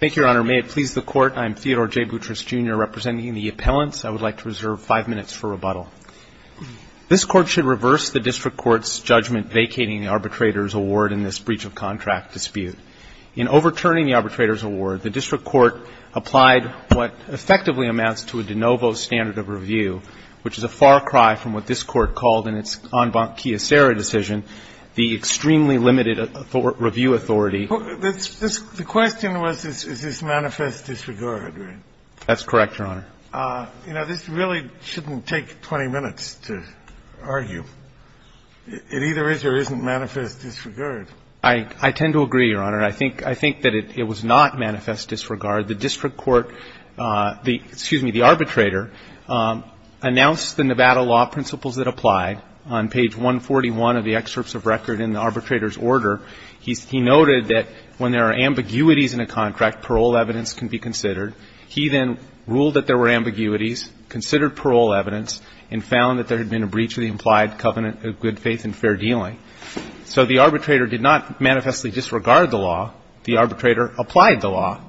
Thank you, Your Honor. May it please the Court, I'm Theodore J. Boutrous, Jr., representing the appellants. I would like to reserve five minutes for rebuttal. This Court should reverse the district court's judgment vacating the arbitrator's award in this breach-of-contract dispute. In overturning the arbitrator's award, the district court applied what effectively amounts to a de novo standard of review, which is a far cry from what this Court called in its en banc kiosera decision the extremely limited review authority. The question was, is this manifest disregard, right? That's correct, Your Honor. You know, this really shouldn't take 20 minutes to argue. It either is or isn't manifest disregard. I tend to agree, Your Honor. I think that it was not manifest disregard. The district court, excuse me, the arbitrator, announced the Nevada law principles that apply on page 141 of the excerpts of record in the arbitrator's order. He noted that when there are ambiguities in a contract, parole evidence can be considered. He then ruled that there were ambiguities, considered parole evidence, and found that there had been a breach of the implied covenant of good faith and fair dealing. So the arbitrator did not manifestly disregard the law. The arbitrator applied the law.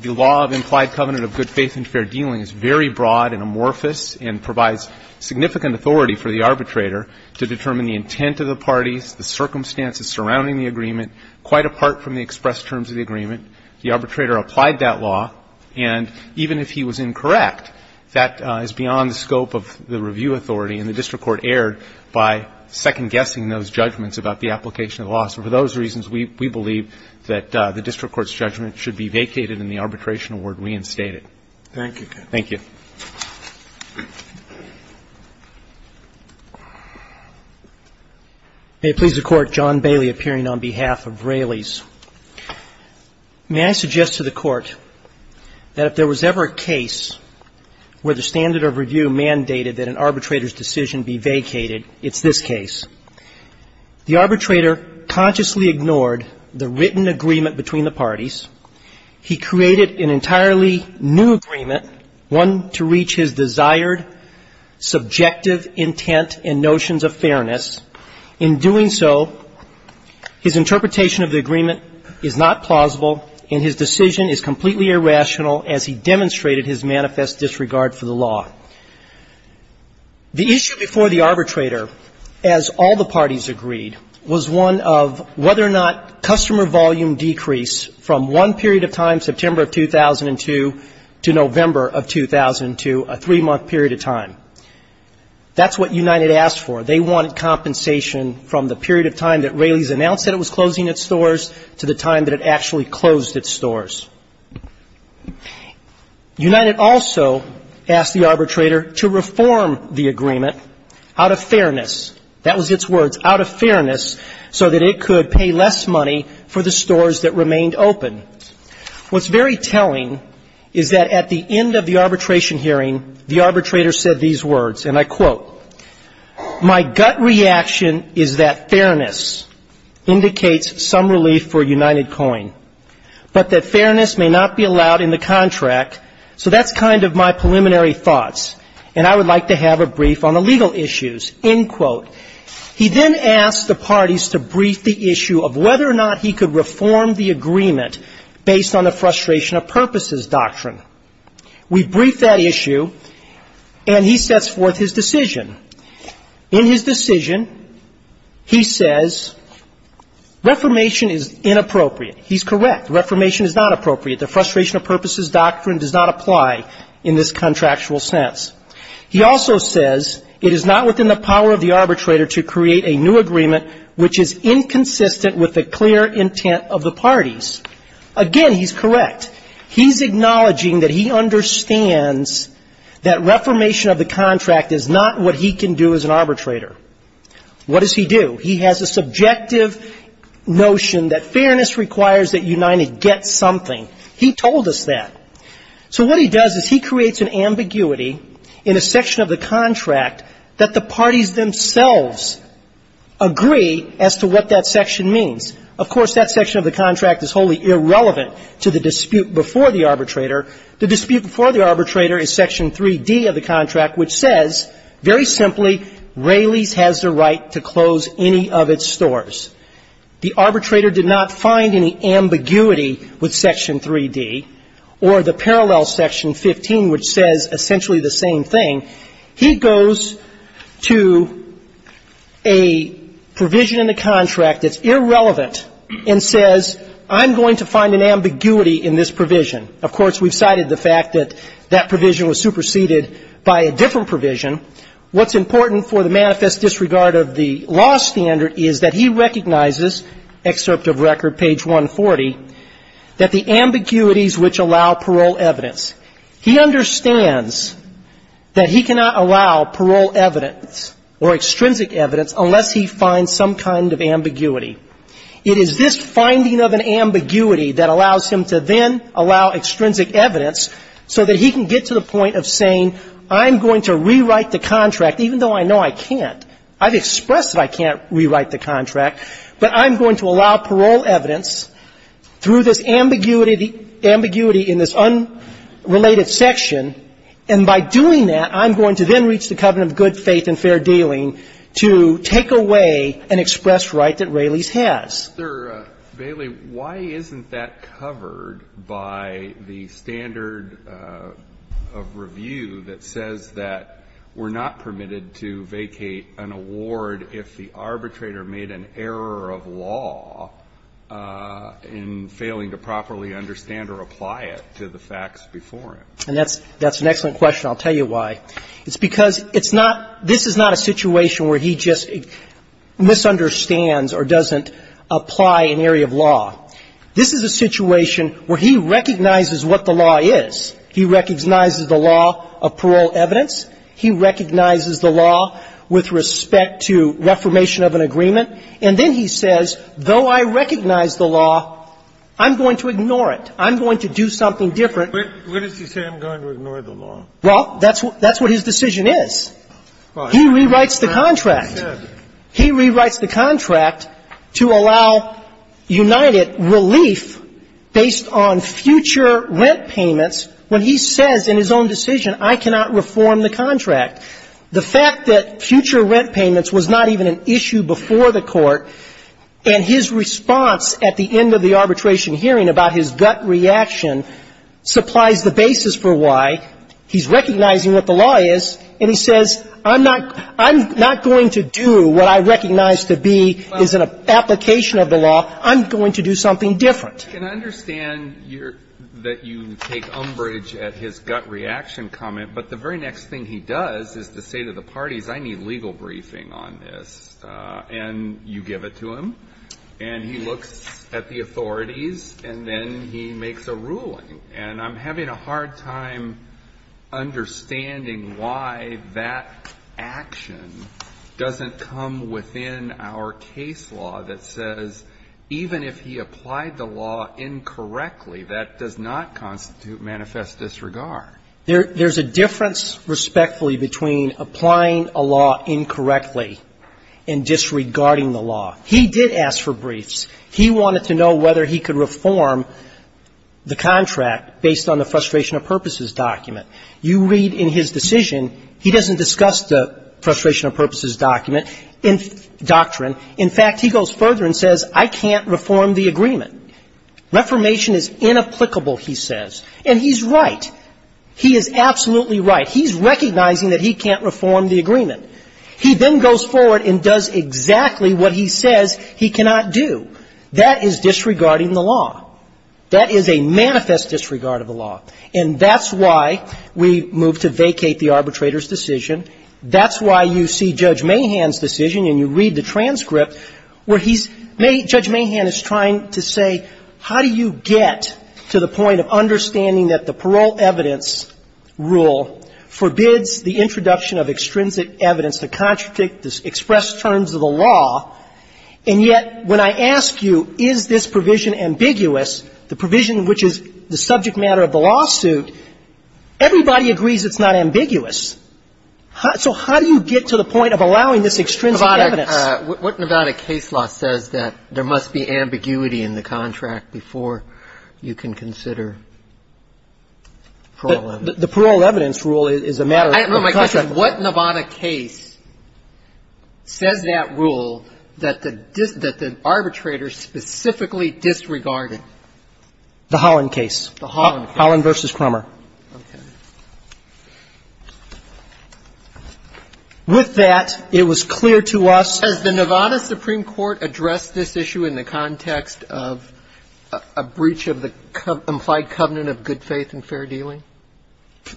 The law of implied covenant of good faith and fair dealing is very broad and amorphous and provides significant authority for the arbitrator to determine the intent of the parties, the circumstances surrounding the agreement, quite apart from the expressed terms of the agreement. The arbitrator applied that law. And even if he was incorrect, that is beyond the scope of the review authority, and the district court erred by second-guessing those judgments about the application of the law. So for those reasons, we believe that the district court's judgment should be vacated and the arbitration award reinstated. Thank you. Thank you. May it please the Court, John Bailey appearing on behalf of Raley's. May I suggest to the Court that if there was ever a case where the standard of review mandated that an arbitrator's decision be vacated, it's this case. The arbitrator consciously ignored the written agreement between the parties. He created an entirely new agreement, one to reach his desired subjective intent and notions of fairness. In doing so, his interpretation of the agreement is not plausible and his decision is completely irrational as he demonstrated his manifest disregard for the law. The issue before the arbitrator, as all the parties agreed, was one of whether or not the arbitrator should be compensated for the three-month period of time that Raley's announced that it was closing its stores. The customer volume decrease from one period of time, September of 2002 to November of 2002, a three-month period of time. That's what United asked for. They wanted compensation from the period of time that Raley's announced that it was closing its stores to the time that it actually closed its stores. United also asked the arbitrator to reform the agreement out of fairness. That was its words, out of fairness, so that it could pay less money for the stores that remained open. What's very telling is that at the end of the arbitration hearing, the arbitrator said these words, and I quote, My gut reaction is that fairness indicates some relief for United Coin, but that fairness may not be allowed in the contract, so that's kind of my preliminary thoughts, and I would like to have a brief on the legal issues, end quote. He then asked the parties to brief the issue of whether or not he could reform the agreement based on the frustration of purposes doctrine. We brief that issue, and he sets forth his decision. In his decision, he says, Reformation is inappropriate. He's correct. Reformation is not appropriate. The frustration of purposes doctrine does not apply in this contractual sense. He also says, It is not within the power of the arbitrator to create a new agreement which is inconsistent with the clear intent of the parties. Again, he's correct. He's acknowledging that he understands that reformation of the contract is not what he can do as an arbitrator. What does he do? He has a subjective notion that fairness requires that United get something. He told us that. So what he does is he creates an ambiguity in a section of the contract that the parties themselves agree as to what that section means. Of course, that section of the contract is wholly irrelevant to the dispute before the arbitrator. The dispute before the arbitrator is section 3D of the contract, which says, very simply, Raley's has the right to close any of its stores. The arbitrator did not find any ambiguity with section 3D, or the parallel section 15, which says essentially the same thing. He goes to a provision in the contract that's irrelevant and says, I'm going to find an ambiguity in this provision. Of course, we've cited the fact that that provision was superseded by a different provision. What's important for the manifest disregard of the law standard is that he recognizes, excerpt of record, page 140, that the ambiguities which allow parole evidence. He understands that he cannot allow parole evidence or extrinsic evidence unless he finds some kind of ambiguity. It is this finding of an ambiguity that allows him to then allow extrinsic evidence so that he can get to the point of saying, I'm going to rewrite the contract, even though I know I can't. I've expressed that I can't rewrite the contract, but I'm going to allow parole evidence through this ambiguity, the ambiguity in this unrelated section. And by doing that, I'm going to then reach the covenant of good faith and fair dealing to take away an expressed right that Raley's has. Alito, why isn't that covered by the standard of review that says that we're not permitted to vacate an award if the arbitrator made an error of law in failing to properly understand or apply it to the facts before him? And that's an excellent question. I'll tell you why. It's because it's not – this is not a situation where he just misunderstands or doesn't apply an area of law. This is a situation where he recognizes what the law is. He recognizes the law of parole evidence. He recognizes the law with respect to reformation of an agreement. And then he says, though I recognize the law, I'm going to ignore it. I'm going to do something different. But what does he say, I'm going to ignore the law? Well, that's what his decision is. He rewrites the contract. He rewrites the contract to allow United relief based on future rent payments when he says in his own decision, I cannot reform the contract. The fact that future rent payments was not even an issue before the Court, and his response at the end of the arbitration hearing about his gut reaction supplies the basis for why, he's recognizing what the law is, and he says, I'm not going to do what I recognize to be is an application of the law. I'm going to do something different. I can understand that you take umbrage at his gut reaction comment, but the very next thing he does is to say to the parties, I need legal briefing on this. And you give it to him. And he looks at the authorities, and then he makes a ruling. And I'm having a hard time understanding why that action doesn't come within our case law that says even if he applied the law incorrectly, that does not constitute manifest disregard. There's a difference, respectfully, between applying a law incorrectly and disregarding the law. He did ask for briefs. He wanted to know whether he could reform the contract based on the frustration of purposes document. You read in his decision, he doesn't discuss the frustration of purposes document doctrine. In fact, he goes further and says, I can't reform the agreement. Reformation is inapplicable, he says. And he's right. He is absolutely right. He's recognizing that he can't reform the agreement. He then goes forward and does exactly what he says he cannot do. That is disregarding the law. That is a manifest disregard of the law. And that's why we move to vacate the arbitrator's decision. That's why you see Judge Mahan's decision and you read the transcript where he's ‑‑ Judge Mahan is trying to say how do you get to the point of understanding that the parole evidence rule forbids the introduction of extrinsic evidence that contradict the expressed terms of the law, and yet when I ask you is this provision ambiguous, the provision which is the subject matter of the lawsuit, everybody agrees it's not ambiguous. So how do you get to the point of allowing this extrinsic evidence? What Nevada case law says that there must be ambiguity in the contract before you can consider parole evidence? The parole evidence rule is a matter of the contract. My question is what Nevada case says that rule that the arbitrator specifically disregarded? The Holland case. The Holland case. Holland v. Crummer. Okay. With that, it was clear to us ‑‑ Has the Nevada Supreme Court addressed this issue in the context of a breach of the implied covenant of good faith and fair dealing?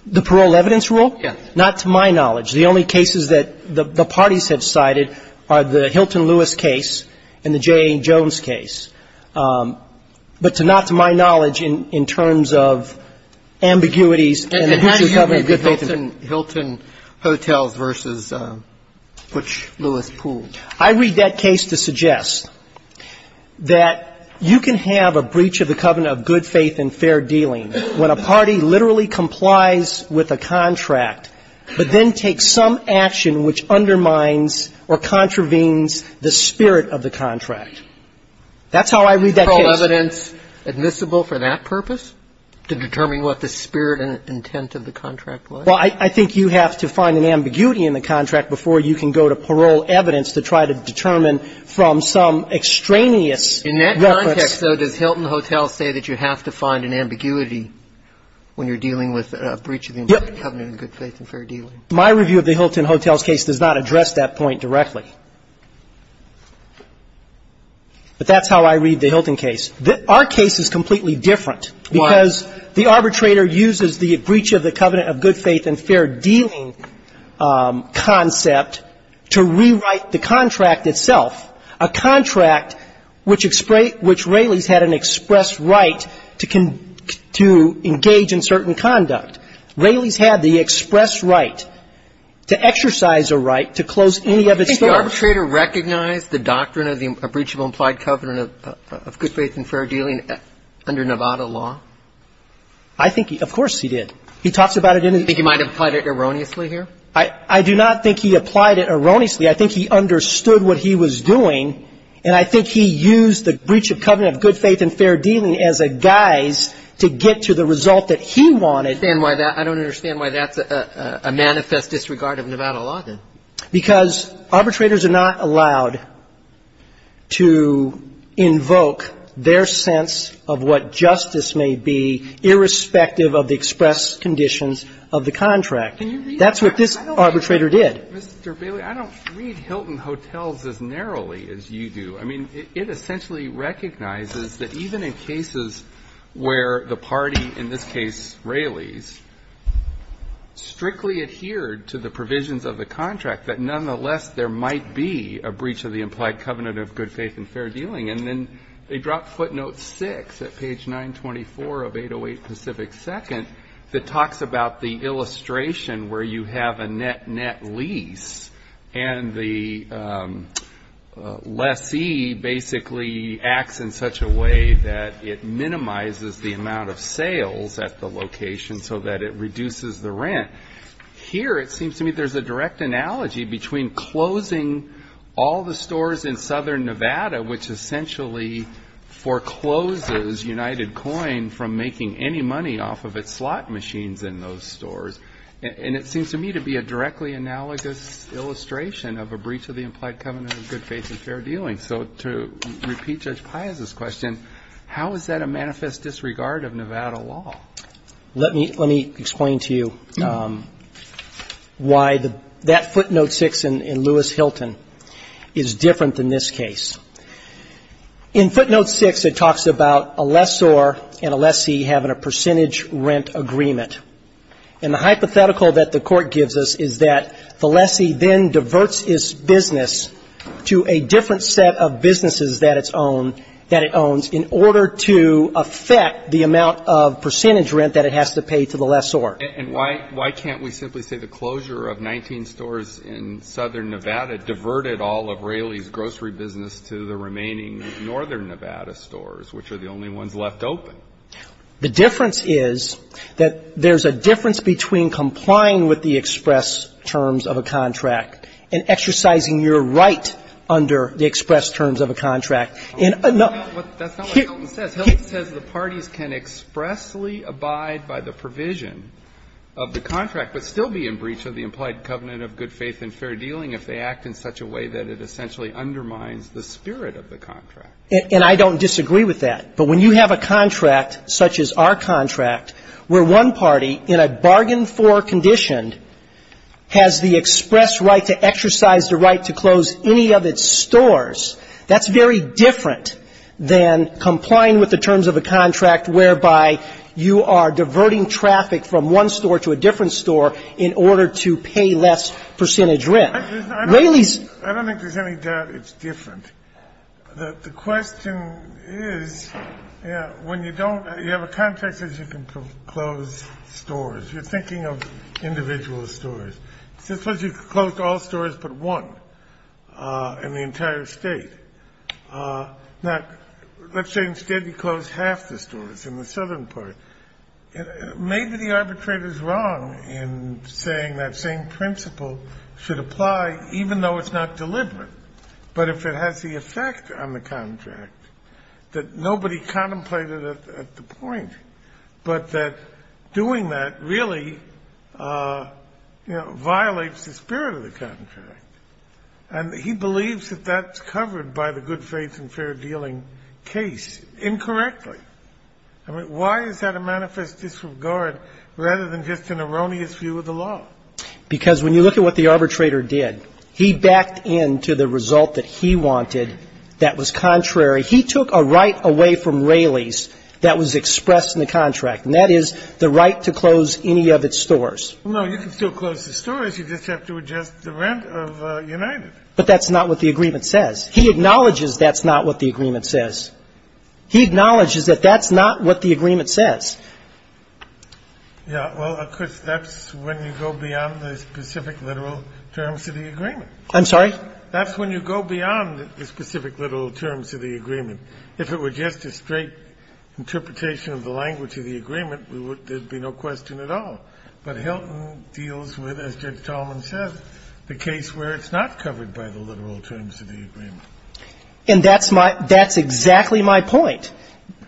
The parole evidence rule? Yes. Not to my knowledge. The only cases that the parties have cited are the Hilton Lewis case and the J.A. Lewis case. But not to my knowledge in terms of ambiguities in the breach of covenant of good faith and ‑‑ And how do you agree with Hilton Hotels v. Butch Lewis Pool? I read that case to suggest that you can have a breach of the covenant of good faith and fair dealing when a party literally complies with a contract, but then takes some action which undermines or contravenes the spirit of the contract. That's how I read that case. Is the parole evidence admissible for that purpose, to determine what the spirit and intent of the contract was? Well, I think you have to find an ambiguity in the contract before you can go to parole evidence to try to determine from some extraneous ‑‑ In that context, though, does Hilton Hotels say that you have to find an ambiguity when you're dealing with a breach of the implied covenant of good faith and fair dealing? My review of the Hilton Hotels case does not address that point directly. But that's how I read the Hilton case. Our case is completely different. Why? Because the arbitrator uses the breach of the covenant of good faith and fair dealing concept to rewrite the contract itself, a contract which Raley's had an express right to engage in certain conduct. Raley's had the express right to exercise a right to close any of its doors. Do you think the arbitrator recognized the doctrine of the breach of implied covenant of good faith and fair dealing under Nevada law? I think he ‑‑ of course he did. He talks about it in his ‑‑ Do you think he might have applied it erroneously here? I do not think he applied it erroneously. I think he understood what he was doing, and I think he used the breach of covenant of good faith and fair dealing as a guise to get to the result that he wanted. I don't understand why that's a manifest disregard of Nevada law, then. Because arbitrators are not allowed to invoke their sense of what justice may be irrespective of the express conditions of the contract. That's what this arbitrator did. Mr. Bailey, I don't read Hilton Hotels as narrowly as you do. I mean, it essentially recognizes that even in cases where the party, in this case Raley's, strictly adhered to the provisions of the contract, that nonetheless there might be a breach of the implied covenant of good faith and fair dealing. And then they drop footnote 6 at page 924 of 808 Pacific 2nd that talks about the illustration where you have a net-net lease, and the lessee basically acts in such a way that it minimizes the amount of sales at the location so that it reduces the rent. Here it seems to me there's a direct analogy between closing all the stores in southern Nevada, which essentially forecloses United Coin from making any money off of its slot machines in those stores, and it seems to me to be a directly analogous illustration of a breach of the implied covenant of good faith and fair dealing. So to repeat Judge Piazza's question, how is that a manifest disregard of Nevada law? Let me explain to you why that footnote 6 in Lewis-Hilton is different than this case. In footnote 6 it talks about a lessor and a lessee having a percentage rent agreement. And the hypothetical that the Court gives us is that the lessee then diverts his business to a different set of businesses that it's owned, that it owns, in order to affect the amount of percentage rent that it has to pay to the lessor. And why can't we simply say the closure of 19 stores in southern Nevada diverted all of Raleigh's grocery business to the remaining northern Nevada stores, which are the only ones left open? The difference is that there's a difference between complying with the express terms of a contract and exercising your right under the express terms of a contract. And another one of the things that the parties can expressly abide by the provision of the contract but still be in breach of the implied covenant of good faith and fair dealing if they act in such a way that it essentially undermines the spirit of the contract. And I don't disagree with that. But when you have a contract such as our contract where one party in a bargain-for condition has the express right to exercise the right to close any of its stores, that's very different than complying with the terms of a contract whereby you are Raleigh's I don't think there's any doubt it's different. The question is, when you don't you have a contract that says you can close stores. You're thinking of individual stores. Suppose you closed all stores but one in the entire State. Now, let's say instead you closed half the stores in the southern part. Maybe the arbitrator is wrong in saying that same principle should apply even though it's not deliberate. But if it has the effect on the contract that nobody contemplated at the point, but that doing that really, you know, violates the spirit of the contract. And he believes that that's covered by the good faith and fair dealing case incorrectly. I mean, why is that a manifest disregard rather than just an erroneous view of the law? Because when you look at what the arbitrator did, he backed into the result that he wanted that was contrary. He took a right away from Raleigh's that was expressed in the contract, and that is the right to close any of its stores. Well, no, you can still close the stores. You just have to adjust the rent of United. But that's not what the agreement says. He acknowledges that's not what the agreement says. Yeah. Well, Chris, that's when you go beyond the specific literal terms of the agreement. I'm sorry? That's when you go beyond the specific literal terms of the agreement. If it were just a straight interpretation of the language of the agreement, there would be no question at all. But Hilton deals with, as Judge Tallman says, the case where it's not covered by the literal terms of the agreement. And that's my – that's exactly my point.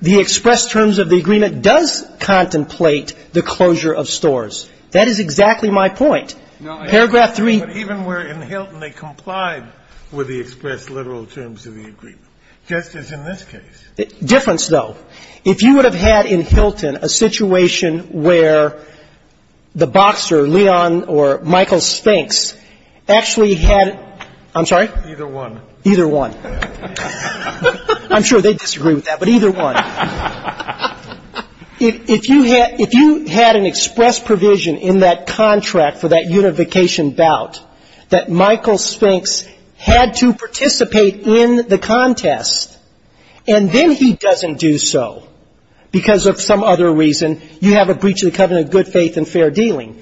The express terms of the agreement does contemplate the closure of stores. That is exactly my point. Paragraph 3. Even where in Hilton they complied with the express literal terms of the agreement, just as in this case. Difference, though. If you would have had in Hilton a situation where the boxer, Leon or Michael Spinks, actually had – I'm sorry? Either one. Either one. I'm sure they'd disagree with that, but either one. If you had – if you had an express provision in that contract for that unification bout that Michael Spinks had to participate in the contest and then he doesn't do so because of some other reason, you have a breach of the covenant of good faith and fair dealing.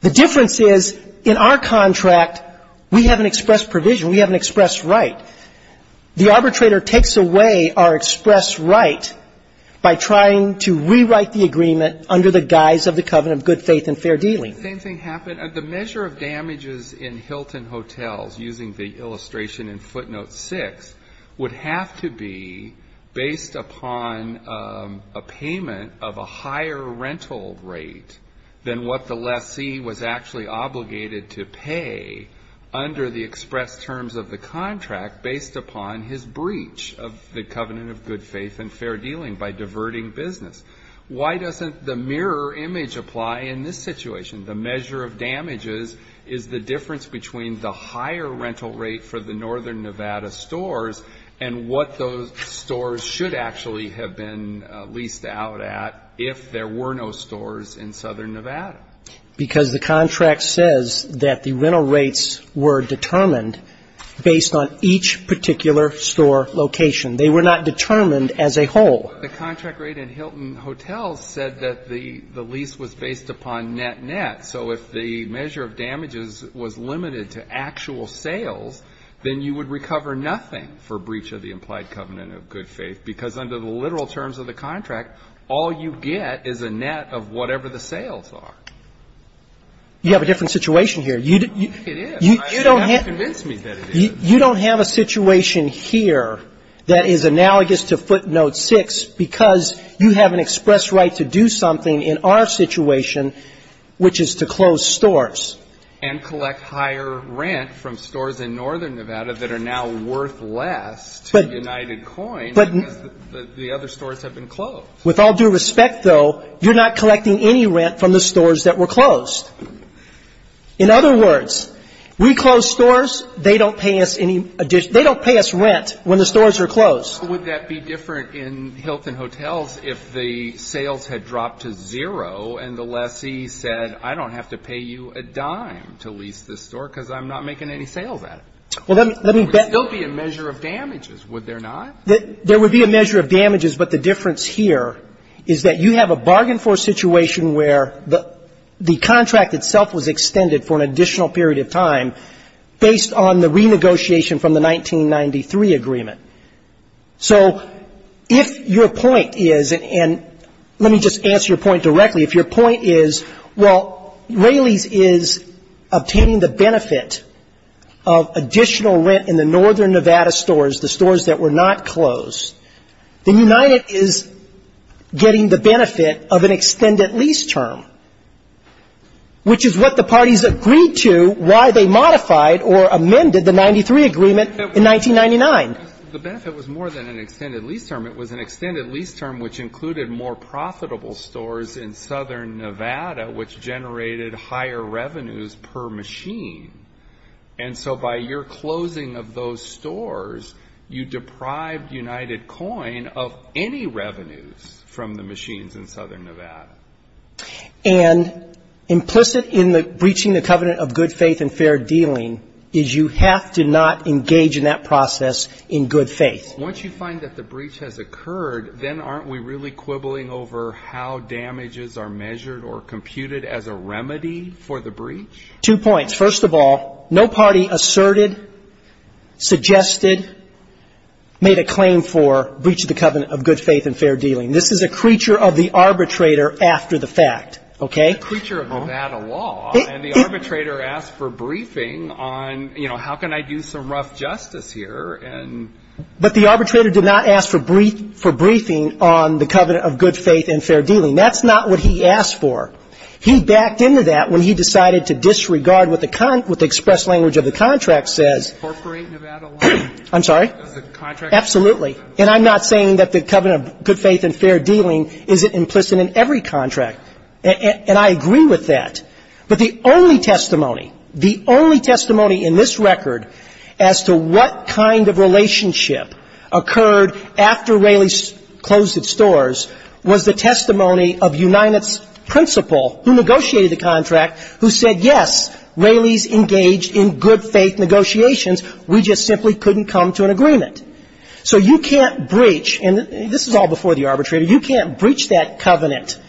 The difference is in our contract, we have an express provision. We have an express right. The arbitrator takes away our express right by trying to rewrite the agreement under the guise of the covenant of good faith and fair dealing. The same thing happened – the measure of damages in Hilton Hotels, using the illustration in footnote 6, would have to be based upon a payment of a higher rental rate than what the lessee was actually obligated to pay under the express terms of the contract based upon his breach of the covenant of good faith and fair dealing by diverting business. Why doesn't the mirror image apply in this situation? The measure of damages is the difference between the higher rental rate for the northern Nevada stores and what those stores should actually have been leased out at if there were no stores in southern Nevada. Because the contract says that the rental rates were determined based on each particular store location. They were not determined as a whole. The contract rate in Hilton Hotels said that the lease was based upon net-net. So if the measure of damages was limited to actual sales, then you would recover nothing for breach of the implied covenant of good faith, because under the literal terms of the contract, all you get is a net of whatever the sales are. You have a different situation here. It is. You don't have to convince me that it is. You don't have a situation here that is analogous to footnote 6 because you have an express right to do something in our situation, which is to close stores. And collect higher rent from stores in northern Nevada that are now worth less to United States. So you're not collecting any rent from the stores that were closed. You're not collecting any rent from the stores that were closed. In other words, we close stores. They don't pay us any additional. They don't pay us rent when the stores are closed. But would that be different in Hilton Hotels if the sales had dropped to zero and the lessee said, I don't have to pay you a dime to lease this store because I'm not making any sales at it? Well, let me bet. There would still be a measure of damages. Would there not? There would be a measure of damages, but the difference here is that you have a bargain for situation where the contract itself was extended for an additional period of time based on the renegotiation from the 1993 agreement. So if your point is, and let me just answer your point directly. If your point is, well, Raley's is obtaining the benefit of additional rent in the northern Nevada stores, the stores that were not closed, then United is getting the benefit of an extended lease term, which is what the parties agreed to while they modified or amended the 1993 agreement in 1999. The benefit was more than an extended lease term. It was an extended lease term which included more profitable stores in southern Nevada, which generated higher revenues per machine. And so by your closing of those stores, you deprived United Coin of any revenues from the machines in southern Nevada. And implicit in the breaching the covenant of good faith and fair dealing is you have to not engage in that process in good faith. Once you find that the breach has occurred, then aren't we really quibbling over how damages are measured or computed as a remedy for the breach? Two points. First of all, no party asserted, suggested, made a claim for breach of the covenant of good faith and fair dealing. This is a creature of the arbitrator after the fact. Okay? A creature of Nevada law. And the arbitrator asked for briefing on, you know, how can I do some rough justice here? But the arbitrator did not ask for briefing on the covenant of good faith and fair dealing. That's not what he asked for. He backed into that when he decided to disregard what the express language of the contract says. Incorporate Nevada law. I'm sorry? The contract. Absolutely. And I'm not saying that the covenant of good faith and fair dealing isn't implicit in every contract. And I agree with that. But the only testimony, the only testimony in this record as to what kind of relationship occurred after Raley closed its doors was the testimony of Uninet's principal, who negotiated the contract, who said, yes, Raley's engaged in good faith negotiations. We just simply couldn't come to an agreement. So you can't breach, and this is all before the arbitrator, you can't breach that covenant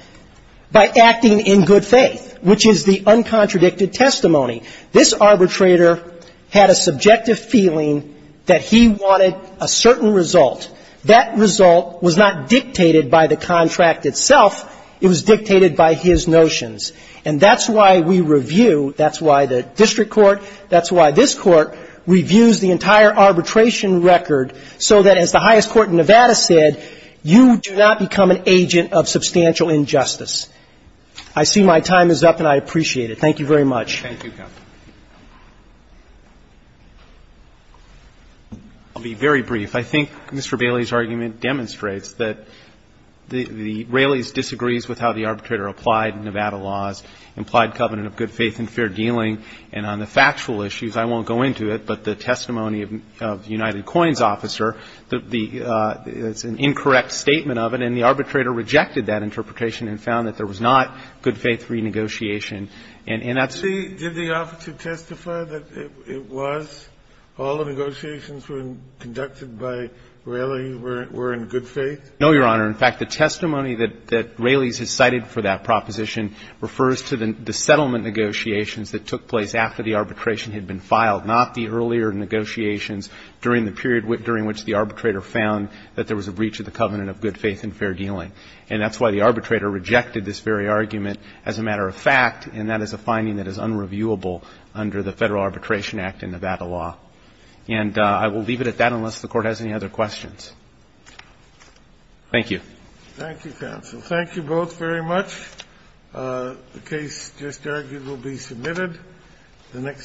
by acting in good faith, which is the uncontradicted testimony. This arbitrator had a subjective feeling that he wanted a certain result. That result was not dictated by the contract itself, it was dictated by his notions. And that's why we review, that's why the district court, that's why this court reviews the entire arbitration record so that, as the highest court in Nevada said, you do not become an agent of substantial injustice. I see my time is up, and I appreciate it. Thank you very much. Thank you, Counsel. I'll be very brief. I think Mr. Raley's argument demonstrates that the Raley's disagrees with how the arbitrator applied Nevada laws, implied covenant of good faith and fair dealing. And on the factual issues, I won't go into it, but the testimony of United Coins officer, the — it's an incorrect statement of it, and the arbitrator rejected that interpretation and found that there was not good faith renegotiation. And that's — Did the officer testify that it was? All the negotiations were conducted by Raley were in good faith? No, Your Honor. In fact, the testimony that Raley's has cited for that proposition refers to the settlement negotiations that took place after the arbitration had been filed, not the earlier negotiations during the period during which the arbitrator found that there was a breach of the covenant of good faith and fair dealing. And that's why the arbitrator rejected this very argument as a matter of fact, and that is a finding that is unreviewable under the Federal Arbitration Act and Nevada law. And I will leave it at that unless the Court has any other questions. Thank you. Thank you, Counsel. Thank you both very much. The case just argued will be submitted. The next